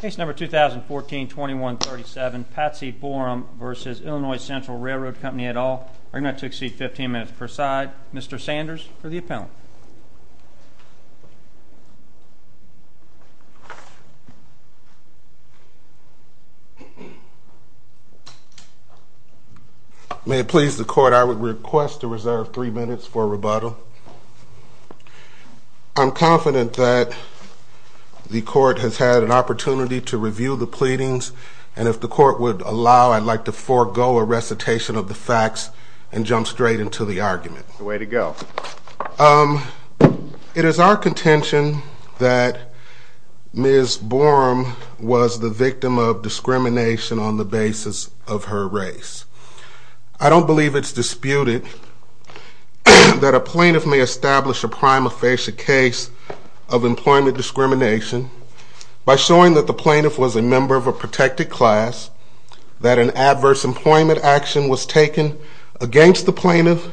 Case number 2014-21-37, Patsy Borum v. Illinois Central Railroad Company et al. Argument to exceed 15 minutes per side. Mr. Sanders for the appellant. May it please the court, I would request to reserve 3 minutes for rebuttal. I'm confident that the court has had an opportunity to review the pleadings and if the court would allow I'd like to forego a recitation of the facts and jump straight into the argument. Way to go. It is our contention that Ms. Borum was the victim of discrimination on the basis of her race. I don't believe it's disputed that a plaintiff may establish a prima facie case of employment discrimination by showing that the plaintiff was a member of a protected class, that an adverse employment action was taken against the plaintiff,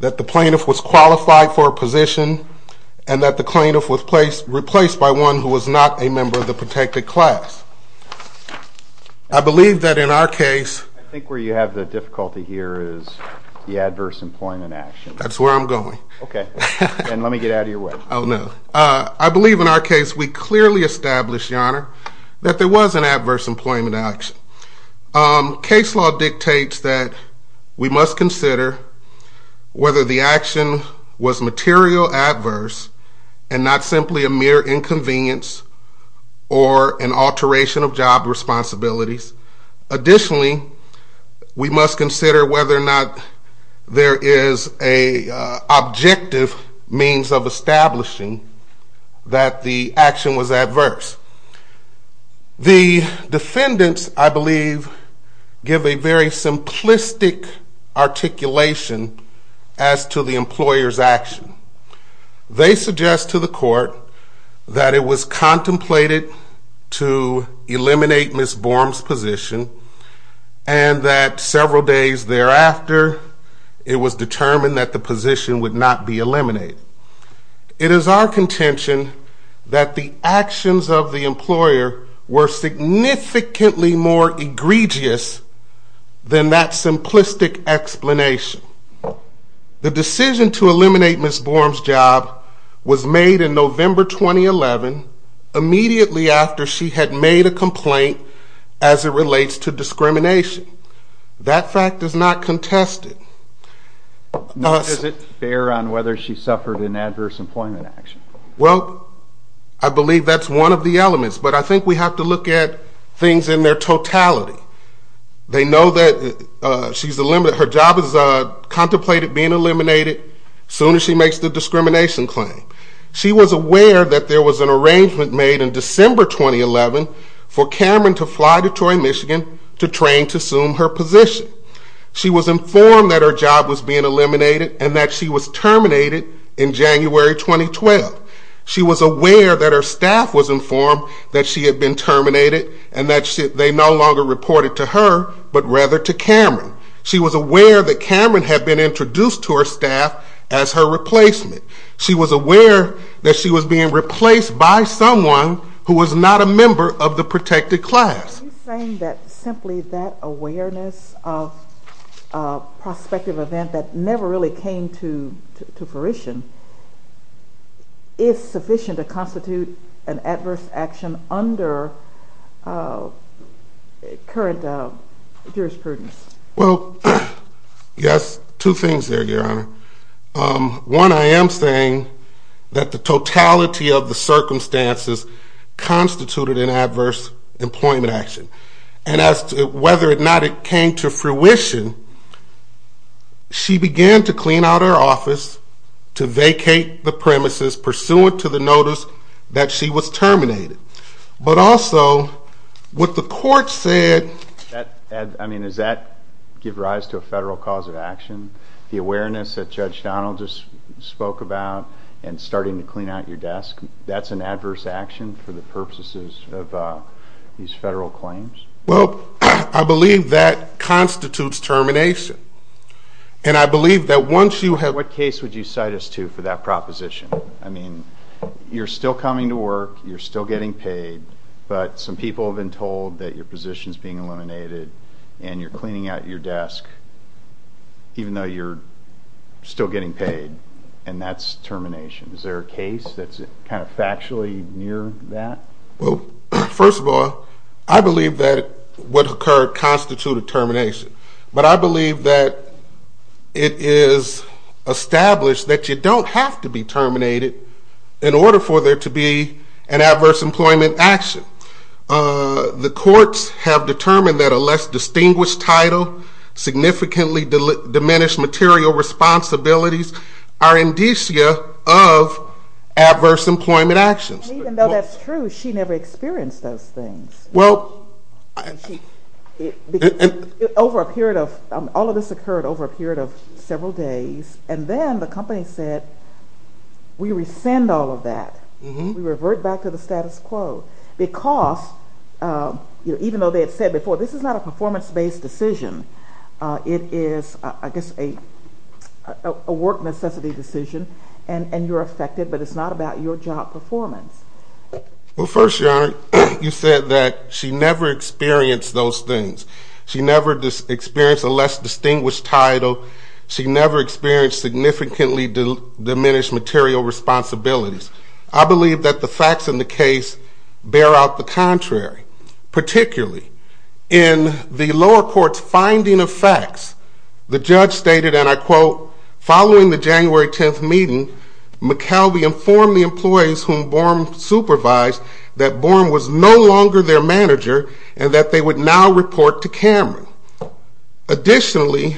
that the plaintiff was qualified for a position, and that the plaintiff was replaced by one who was not a member of the protected class. I believe that in our case... I think where you have the difficulty here is the adverse employment action. That's where I'm going. Okay. And let me get out of your way. Oh, no. I believe in our case we clearly established, Your Honor, that there was an adverse employment action. Case law dictates that we must consider whether the action was material adverse and not simply a mere inconvenience or an alteration of job responsibilities. Additionally, we must consider whether or not there is an objective means of establishing that the action was adverse. The defendants, I believe, give a very simplistic articulation as to the employer's action. They suggest to the court that it was contemplated to eliminate Ms. Borm's position and that several days thereafter it was determined that the position would not be eliminated. It is our contention that the actions of the employer were significantly more egregious than that simplistic explanation. The decision to eliminate Ms. Borm's job was made in November 2011, immediately after she had made a complaint as it relates to discrimination. That fact is not contested. Now, is it fair on whether she suffered an adverse employment action? Well, I believe that's one of the elements, but I think we have to look at things in their totality. They know that her job is contemplated being eliminated soon as she makes the discrimination claim. She was aware that there was an arrangement made in December 2011 for Cameron to fly to Troy, Michigan to train to assume her position. She was informed that her job was being eliminated and that she was terminated in January 2012. She was aware that her staff was informed that she had been terminated and that they no longer reported to her, but rather to Cameron. She was aware that Cameron had been introduced to her staff as her replacement. She was aware that she was being replaced by someone who was not a member of the protected class. Are you saying that simply that awareness of a prospective event that never really came to fruition is sufficient to constitute an adverse action under current jurisprudence? Well, yes, two things there, Your Honor. One, I am saying that the totality of the circumstances constituted an adverse employment action. And as to whether or not it came to fruition, she began to clean out her office, to vacate the premises pursuant to the notice that she was terminated. But also, what the court said... I mean, does that give rise to a federal cause of action? The awareness that Judge Donald just spoke about and starting to clean out your desk, that's an adverse action for the purposes of these federal claims? Well, I believe that constitutes termination. And I believe that once you have... What case would you cite us to for that proposition? I mean, you're still coming to work, you're still getting paid, but some people have been told that your position is being eliminated and you're cleaning out your desk, even though you're still getting paid, and that's termination. Is there a case that's kind of factually near that? Well, first of all, I believe that what occurred constituted termination. But I believe that it is established that you don't have to be terminated in order for there to be an adverse employment action. The courts have determined that a less distinguished title, significantly diminished material responsibilities are indicia of adverse employment actions. Even though that's true, she never experienced those things. All of this occurred over a period of several days, and then the company said, we rescind all of that. We revert back to the status quo. Because, even though they had said before, this is not a performance-based decision. It is, I guess, a work necessity decision, and you're affected, but it's not about your job performance. Well, first, Your Honor, you said that she never experienced those things. She never experienced a less distinguished title. She never experienced significantly diminished material responsibilities. I believe that the facts in the case bear out the contrary. Particularly, in the lower court's finding of facts, the judge stated, and I quote, Following the January 10th meeting, McKelvey informed the employees whom Borm supervised that Borm was no longer their manager and that they would now report to Cameron. Additionally,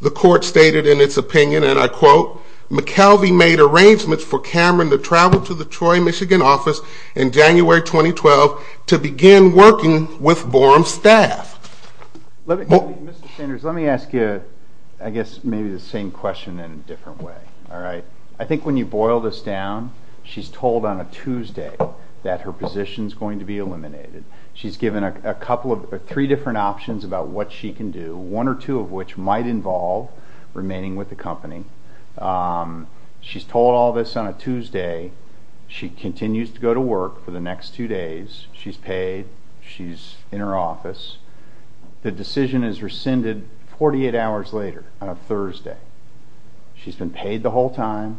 the court stated in its opinion, and I quote, McKelvey made arrangements for Cameron to travel to the Troy, Michigan office in January 2012 to begin working with Borm's staff. Mr. Sanders, let me ask you, I guess, maybe the same question in a different way, all right? I think when you boil this down, she's told on a Tuesday that her position's going to be eliminated. She's given three different options about what she can do, one or two of which might involve remaining with the company. She's told all this on a Tuesday. She continues to go to work for the next two days. She's paid. She's in her office. The decision is rescinded 48 hours later on a Thursday. She's been paid the whole time.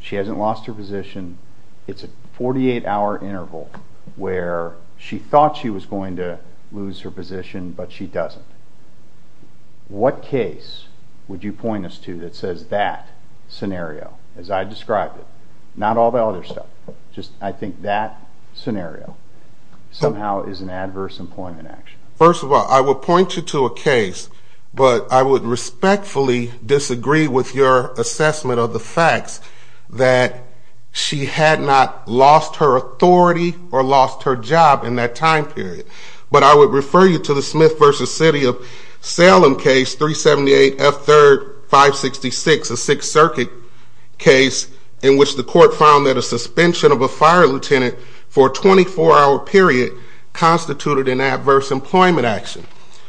She hasn't lost her position. It's a 48-hour interval where she thought she was going to lose her position, but she doesn't. What case would you point us to that says that scenario, as I described it, not all the other stuff, just I think that scenario somehow is an adverse employment action? First of all, I would point you to a case, but I would respectfully disagree with your assessment of the facts that she had not lost her authority or lost her job in that time period. But I would refer you to the Smith v. City of Salem case, 378 F. 3rd, 566, a Sixth Circuit case, in which the court found that a suspension of a fire lieutenant for a 24-hour period constituted an adverse employment action.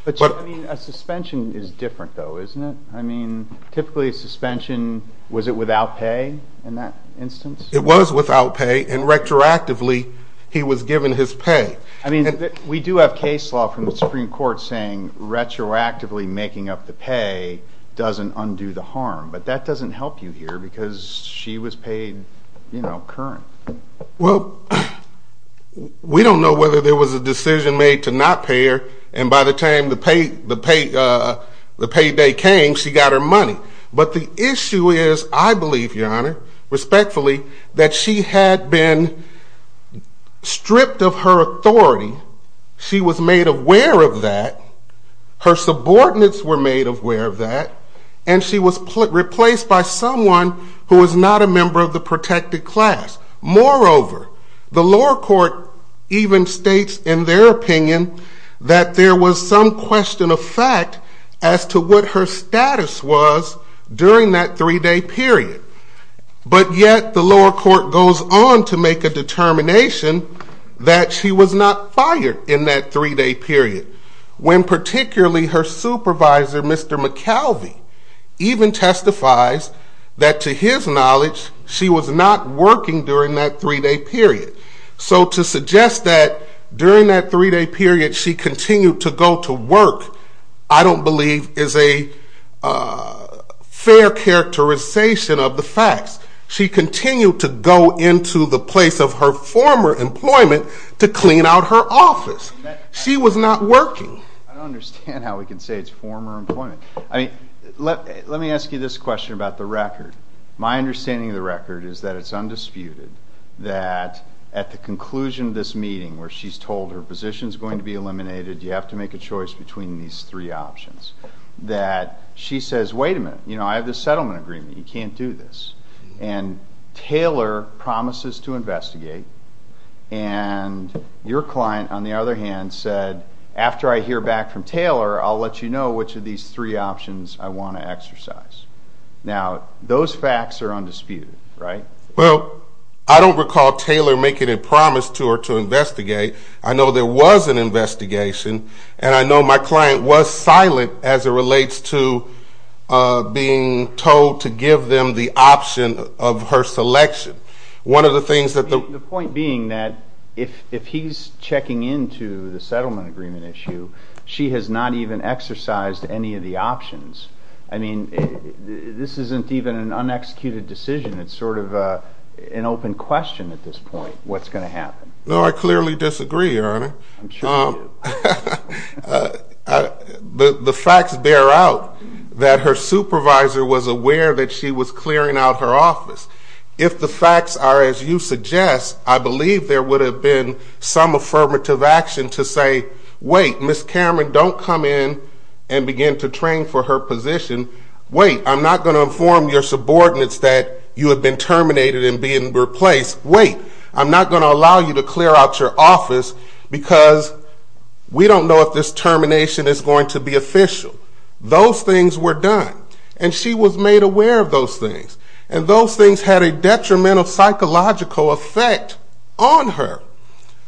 But a suspension is different, though, isn't it? I mean, typically a suspension, was it without pay in that instance? It was without pay, and retroactively he was given his pay. I mean, we do have case law from the Supreme Court saying retroactively making up the pay doesn't undo the harm, but that doesn't help you here because she was paid current. Well, we don't know whether there was a decision made to not pay her, and by the time the payday came, she got her money. But the issue is, I believe, Your Honor, respectfully, that she had been stripped of her authority, she was made aware of that, her subordinates were made aware of that, and she was replaced by someone who was not a member of the protected class. Moreover, the lower court even states in their opinion that there was some question of fact as to what her status was during that three-day period. But yet the lower court goes on to make a determination that she was not fired in that three-day period, when particularly her supervisor, Mr. McKelvey, even testifies that to his knowledge she was not working during that three-day period. So to suggest that during that three-day period she continued to go to work, I don't believe is a fair characterization of the facts. She continued to go into the place of her former employment to clean out her office. She was not working. I don't understand how we can say it's former employment. Let me ask you this question about the record. My understanding of the record is that it's undisputed that at the conclusion of this meeting, where she's told her position is going to be eliminated, you have to make a choice between these three options, that she says, wait a minute, I have this settlement agreement, you can't do this. And Taylor promises to investigate, and your client, on the other hand, said, after I hear back from Taylor, I'll let you know which of these three options I want to exercise. Now, those facts are undisputed, right? Well, I don't recall Taylor making a promise to her to investigate. I know there was an investigation, and I know my client was silent as it relates to being told to give them the option of her selection. The point being that if he's checking into the settlement agreement issue, she has not even exercised any of the options. I mean, this isn't even an unexecuted decision. It's sort of an open question at this point, what's going to happen. No, I clearly disagree, Your Honor. The facts bear out that her supervisor was aware that she was clearing out her office. If the facts are as you suggest, I believe there would have been some affirmative action to say, wait, Ms. Cameron, don't come in and begin to train for her position. Wait, I'm not going to inform your subordinates that you have been terminated and being replaced. Wait, I'm not going to allow you to clear out your office because we don't know if this termination is going to be official. Those things were done, and she was made aware of those things. And those things had a detrimental psychological effect on her.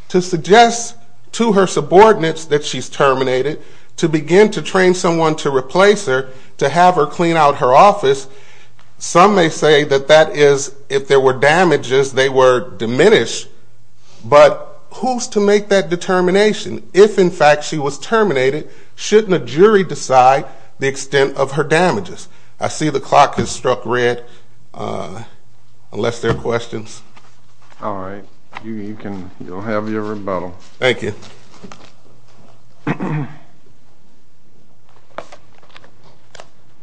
To suggest to her subordinates that she's terminated, to begin to train someone to replace her, to have her clean out her office, some may say that that is if there were damages, they were diminished. But who's to make that determination? If, in fact, she was terminated, shouldn't a jury decide the extent of her damages? I see the clock has struck red, unless there are questions. All right. You can have your rebuttal. Thank you. Holly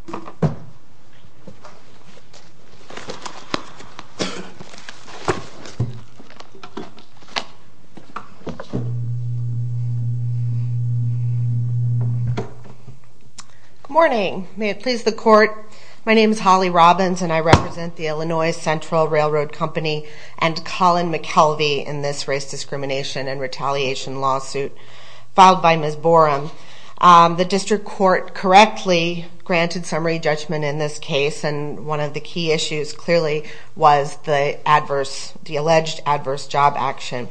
Robbins Good morning. May it please the Court, my name is Holly Robbins, and I represent the Illinois Central Railroad Company and Colin McKelvey in this race discrimination and retaliation lawsuit filed by Ms. Borum. The district court correctly granted summary judgment in this case, and one of the key issues clearly was the alleged adverse job action.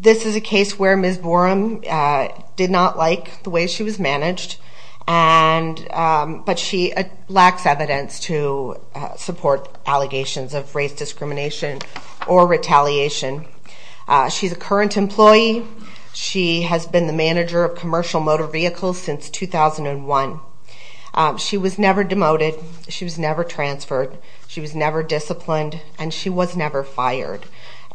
This is a case where Ms. Borum did not like the way she was managed, but she lacks evidence to support allegations of race discrimination or retaliation. She's a current employee. She has been the manager of commercial motor vehicles since 2001. She was never demoted, she was never transferred, she was never disciplined, and she was never fired.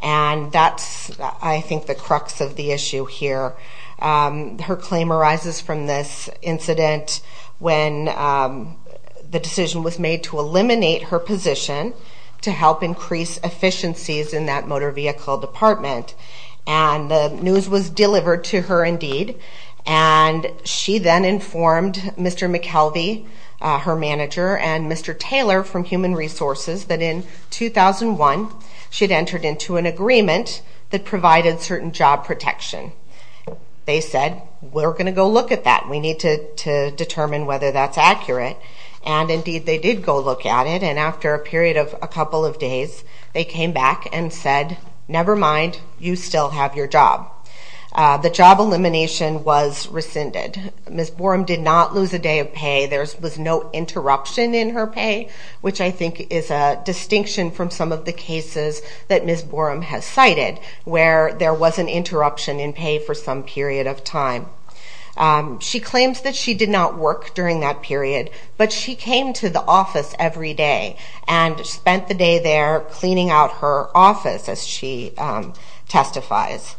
And that's, I think, the crux of the issue here. Her claim arises from this incident when the decision was made to eliminate her position to help increase efficiencies in that motor vehicle department. And the news was delivered to her indeed. And she then informed Mr. McKelvey, her manager, and Mr. Taylor from Human Resources that in 2001 she'd entered into an agreement that provided certain job protection. They said, we're going to go look at that. We need to determine whether that's accurate. And indeed they did go look at it, and after a period of a couple of days they came back and said, never mind, you still have your job. The job elimination was rescinded. Ms. Borum did not lose a day of pay. There was no interruption in her pay, which I think is a distinction from some of the cases that Ms. Borum has cited where there was an interruption in pay for some period of time. She claims that she did not work during that period, but she came to the office every day and spent the day there cleaning out her office, as she testifies.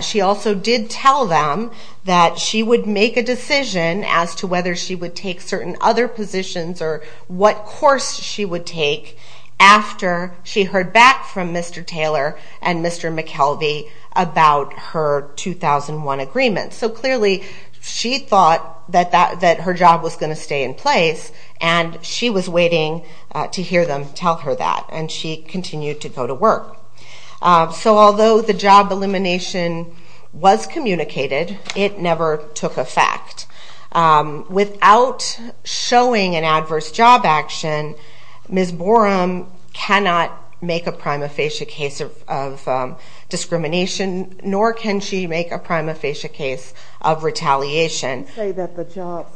She also did tell them that she would make a decision as to whether she would take certain other positions or what course she would take after she heard back from Mr. Taylor and Mr. McKelvey about her 2001 agreement. So clearly she thought that her job was going to stay in place, and she was waiting to hear them tell her that, and she continued to go to work. So although the job elimination was communicated, it never took effect. Without showing an adverse job action, Ms. Borum cannot make a prima facie case of discrimination, nor can she make a prima facie case of retaliation. You didn't say that the job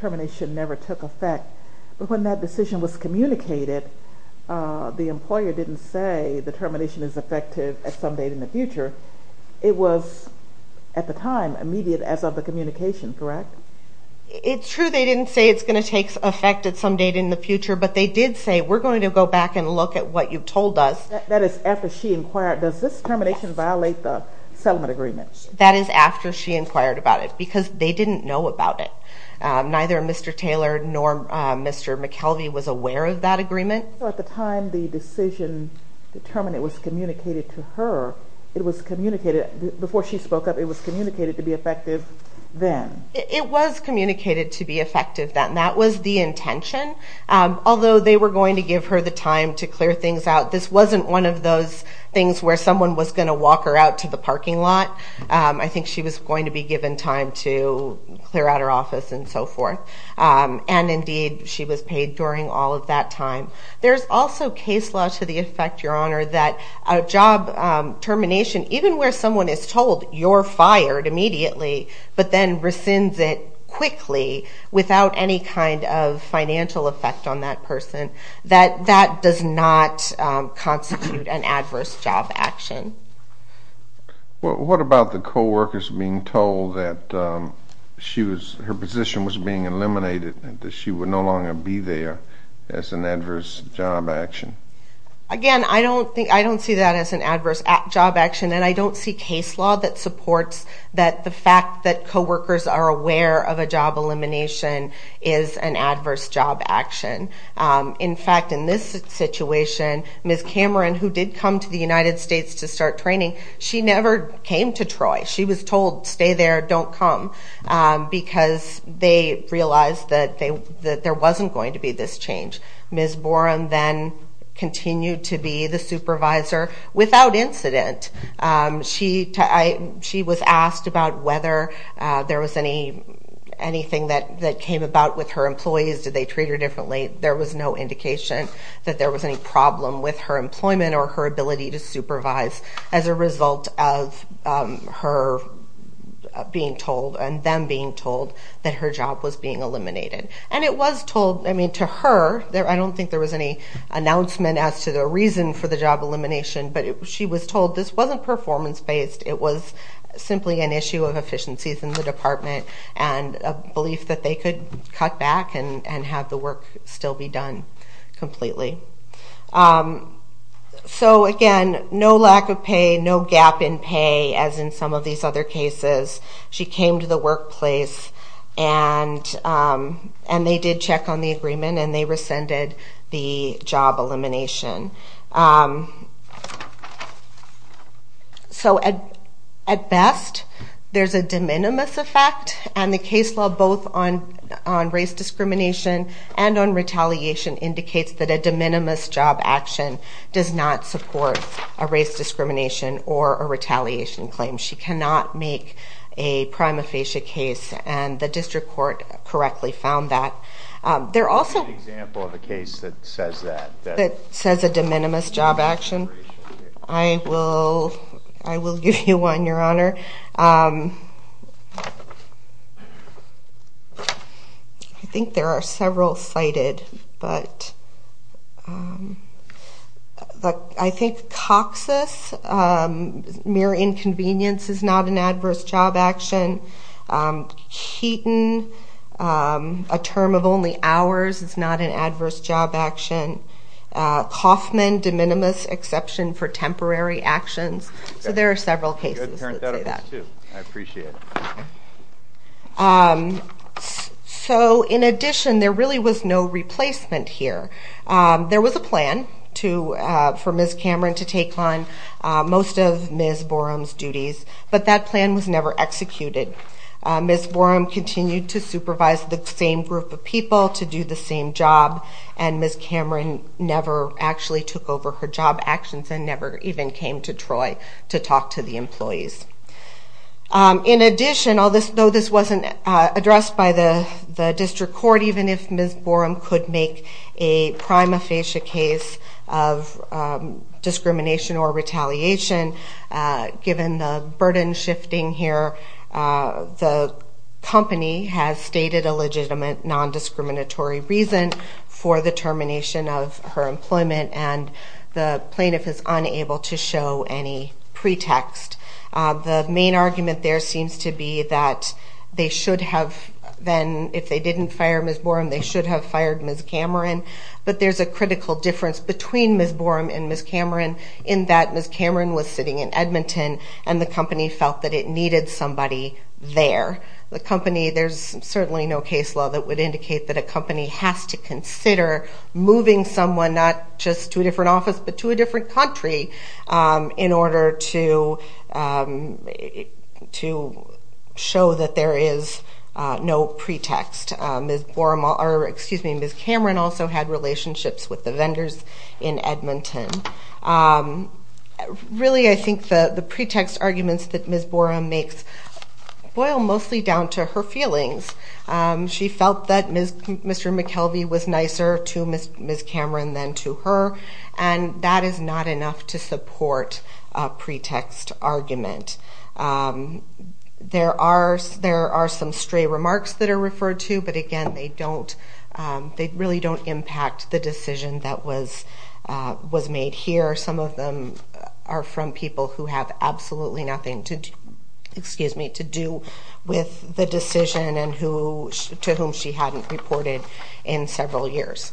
termination never took effect, but when that decision was communicated, the employer didn't say the termination is effective at some date in the future. It was, at the time, immediate as of the communication, correct? It's true they didn't say it's going to take effect at some date in the future, but they did say, we're going to go back and look at what you've told us. That is after she inquired, does this termination violate the settlement agreement? That is after she inquired about it, because they didn't know about it. Neither Mr. Taylor nor Mr. McKelvey was aware of that agreement. So at the time the decision to terminate was communicated to her, it was communicated, before she spoke up, it was communicated to be effective then? It was communicated to be effective then, that was the intention, although they were going to give her the time to clear things out. This wasn't one of those things where someone was going to walk her out to the parking lot. I think she was going to be given time to clear out her office and so forth. And indeed, she was paid during all of that time. There's also case law to the effect, Your Honor, that a job termination, even where someone is told you're fired immediately, but then rescinds it quickly without any kind of financial effect on that person, that that does not constitute an adverse job action. What about the co-workers being told that her position was being eliminated and that she would no longer be there as an adverse job action? Again, I don't see that as an adverse job action, and I don't see case law that supports that the fact that co-workers are aware of a job elimination is an adverse job action. In fact, in this situation, Ms. Cameron, who did come to the United States to start training, she never came to Troy. She was told, stay there, don't come, because they realized that there wasn't going to be this change. Ms. Borum then continued to be the supervisor without incident. She was asked about whether there was anything that came about with her employees. Did they treat her differently? There was no indication that there was any problem with her employment or her ability to supervise as a result of her being told and them being told that her job was being eliminated. It was told to her. I don't think there was any announcement as to the reason for the job elimination, but she was told this wasn't performance-based. It was simply an issue of efficiencies in the department and a belief that they could cut back and have the work still be done completely. Again, no lack of pay, no gap in pay, as in some of these other cases. She came to the workplace, and they did check on the agreement, and they rescinded the job elimination. So, at best, there's a de minimis effect, and the case law, both on race discrimination and on retaliation, indicates that a de minimis job action does not support a race discrimination or a retaliation claim. She cannot make a prima facie case, and the district court correctly found that. There are also... What's an example of a case that says that? That says a de minimis job action? I will give you one, Your Honor. I think there are several cited, but I think Coxus, mere inconvenience is not an adverse job action. Keaton, a term of only hours is not an adverse job action. Coffman, de minimis exception for temporary actions. So there are several cases that say that. Good parentheticals, too. I appreciate it. So, in addition, there really was no replacement here. There was a plan for Ms. Cameron to take on most of Ms. Borum's duties, but that plan was never executed. Ms. Borum continued to supervise the same group of people to do the same job, and Ms. Cameron never actually took over her job actions and never even came to Troy to talk to the employees. In addition, though this wasn't addressed by the district court, even if Ms. Borum could make a prima facie case of discrimination or retaliation, given the burden shifting here, the company has stated a legitimate nondiscriminatory reason for the termination of her employment, and the plaintiff is unable to show any pretext. The main argument there seems to be that they should have then, if they didn't fire Ms. Borum, they should have fired Ms. Cameron. But there's a critical difference between Ms. Borum and Ms. Cameron in that Ms. Cameron was sitting in Edmonton and the company felt that it needed somebody there. There's certainly no case law that would indicate that a company has to consider moving someone not just to a different office but to a different country in order to show that there is no pretext. Ms. Cameron also had relationships with the vendors in Edmonton. Really, I think the pretext arguments that Ms. Borum makes boil mostly down to her feelings. She felt that Mr. McKelvey was nicer to Ms. Cameron than to her, and that is not enough to support a pretext argument. There are some stray remarks that are referred to, but again, they really don't impact the decision that was made here. Some of them are from people who have absolutely nothing to do with the decision and to whom she hadn't reported in several years.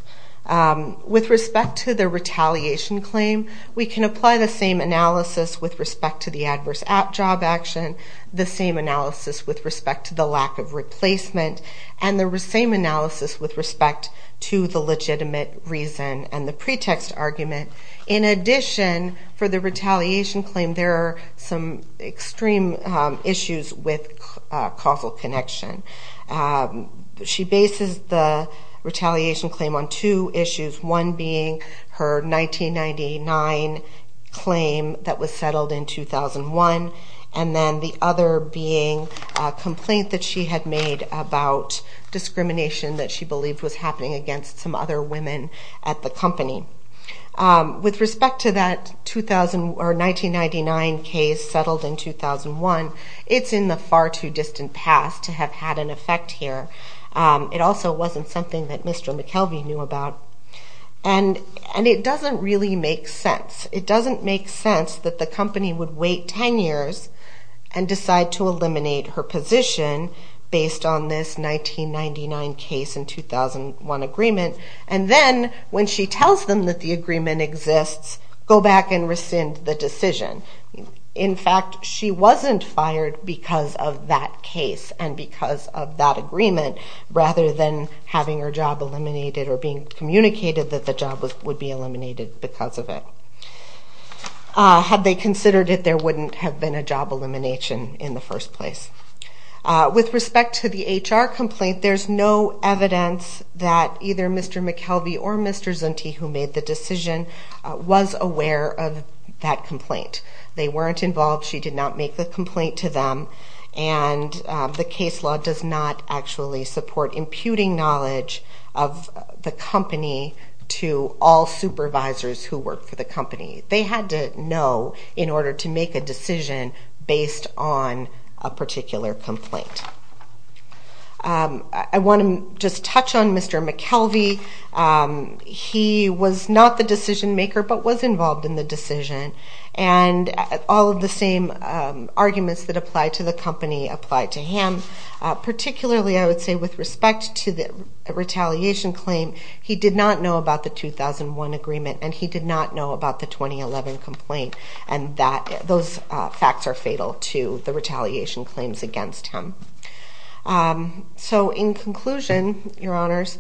With respect to the retaliation claim, we can apply the same analysis with respect to the adverse job action, the same analysis with respect to the lack of replacement, and the same analysis with respect to the legitimate reason and the pretext argument. In addition, for the retaliation claim, there are some extreme issues with causal connection. She bases the retaliation claim on two issues, one being her 1999 claim that was settled in 2001, and then the other being a complaint that she had made about discrimination that she believed was happening against some other women at the company. With respect to that 1999 case settled in 2001, it's in the far too distant past to have had an effect here. It also wasn't something that Mr. McKelvey knew about, and it doesn't really make sense. It doesn't make sense that the company would wait 10 years and decide to eliminate her position based on this 1999 case and 2001 agreement, and then when she tells them that the agreement exists, go back and rescind the decision. In fact, she wasn't fired because of that case and because of that agreement, rather than having her job eliminated or being communicated that the job would be eliminated because of it. Had they considered it, there wouldn't have been a job elimination in the first place. With respect to the HR complaint, there's no evidence that either Mr. McKelvey or Mr. Zunti, who made the decision, was aware of that complaint. They weren't involved. She did not make the complaint to them, and the case law does not actually support imputing knowledge of the company to all supervisors who work for the company. They had to know in order to make a decision based on a particular complaint. I want to just touch on Mr. McKelvey. He was not the decision-maker but was involved in the decision, and all of the same arguments that apply to the company apply to him. Particularly, I would say, with respect to the retaliation claim, he did not know about the 2001 agreement, and he did not know about the 2011 complaint, and those facts are fatal to the retaliation claims against him. In conclusion, Your Honors,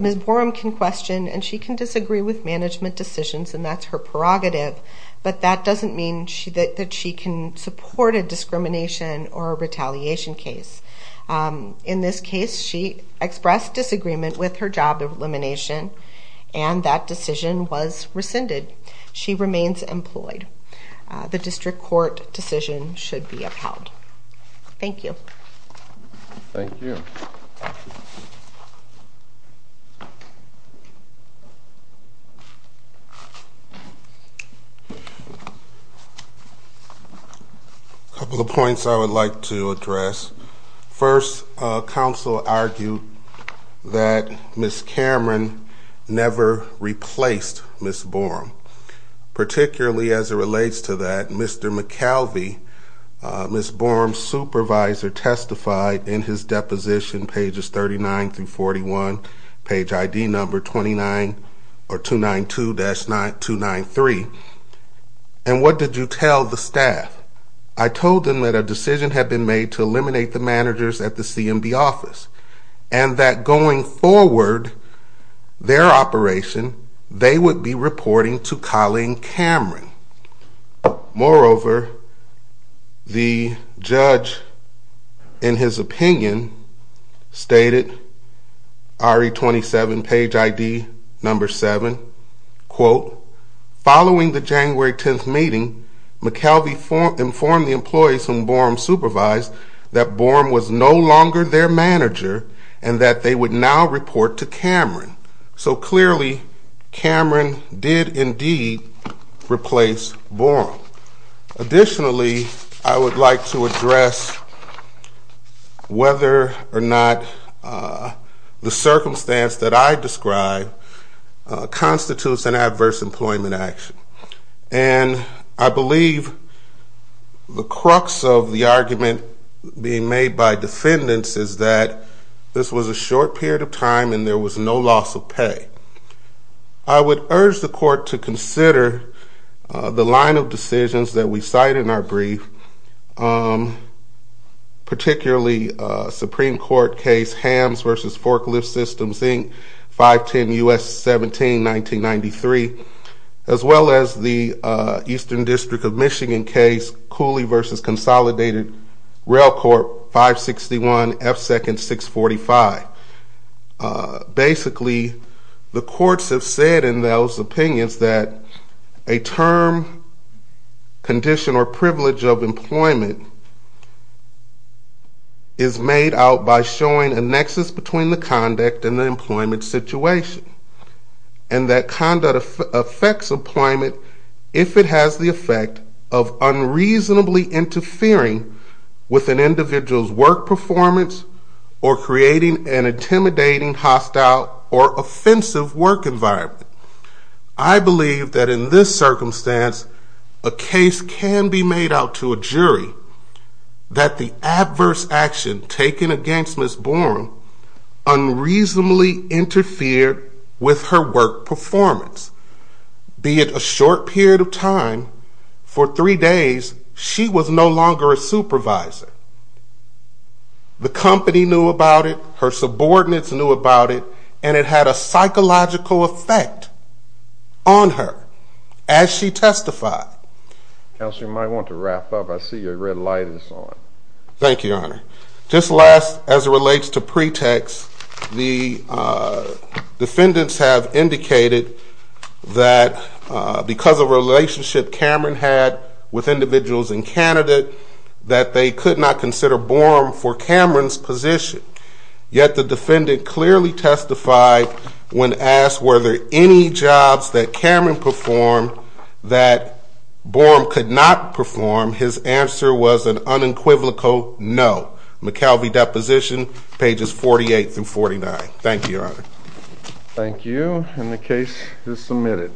Ms. Borum can question and she can disagree with management decisions, and that's her prerogative, but that doesn't mean that she can support a discrimination or a retaliation case. In this case, she expressed disagreement with her job elimination, and that decision was rescinded. She remains employed. The district court decision should be upheld. Thank you. Thank you. A couple of points I would like to address. First, counsel argued that Ms. Cameron never replaced Ms. Borum. Particularly as it relates to that, Mr. McKelvey, Ms. Borum's supervisor, testified in his deposition, pages 39 through 41, page ID number 292-293, and what did you tell the staff? I told them that a decision had been made to eliminate the managers at the CMB office, and that going forward, their operation, they would be reporting to Colleen Cameron. Moreover, the judge, in his opinion, stated, RE27, page ID number 7, quote, Following the January 10th meeting, McKelvey informed the employees whom Borum supervised that Borum was no longer their manager and that they would now report to Cameron. So clearly, Cameron did indeed replace Borum. Additionally, I would like to address whether or not the circumstance that I described constitutes an adverse employment action. And I believe the crux of the argument being made by defendants is that this was a short period of time and there was no loss of pay. I would urge the court to consider the line of decisions that we cite in our brief, particularly Supreme Court case Hamms v. Forklift Systems, Inc., 510 U.S. 17, 1993, as well as the Eastern District of Michigan case Cooley v. Consolidated, Rail Corp. 561 F. Second 645. Basically, the courts have said in those opinions that a term, condition, or privilege of employment is made out by showing a nexus between the conduct and the employment situation, and that conduct affects employment if it has the effect of unreasonably interfering with an individual's work performance or creating an intimidating, hostile, or offensive work environment. I believe that in this circumstance, a case can be made out to a jury that the adverse action taken against Ms. Bourne unreasonably interfered with her work performance. Be it a short period of time, for three days, she was no longer a supervisor. The company knew about it, her subordinates knew about it, and it had a psychological effect on her as she testified. Counselor, you might want to wrap up. I see your red light is on. Thank you, Your Honor. Just last, as it relates to pretext, the defendants have indicated that because of a relationship Cameron had with individuals in Canada, that they could not consider Bourne for Cameron's position. Yet the defendant clearly testified when asked were there any jobs that Cameron performed that Bourne could not perform. His answer was an unequivocal no. McKelvey Deposition, pages 48 through 49. Thank you, Your Honor. Thank you, and the case is submitted.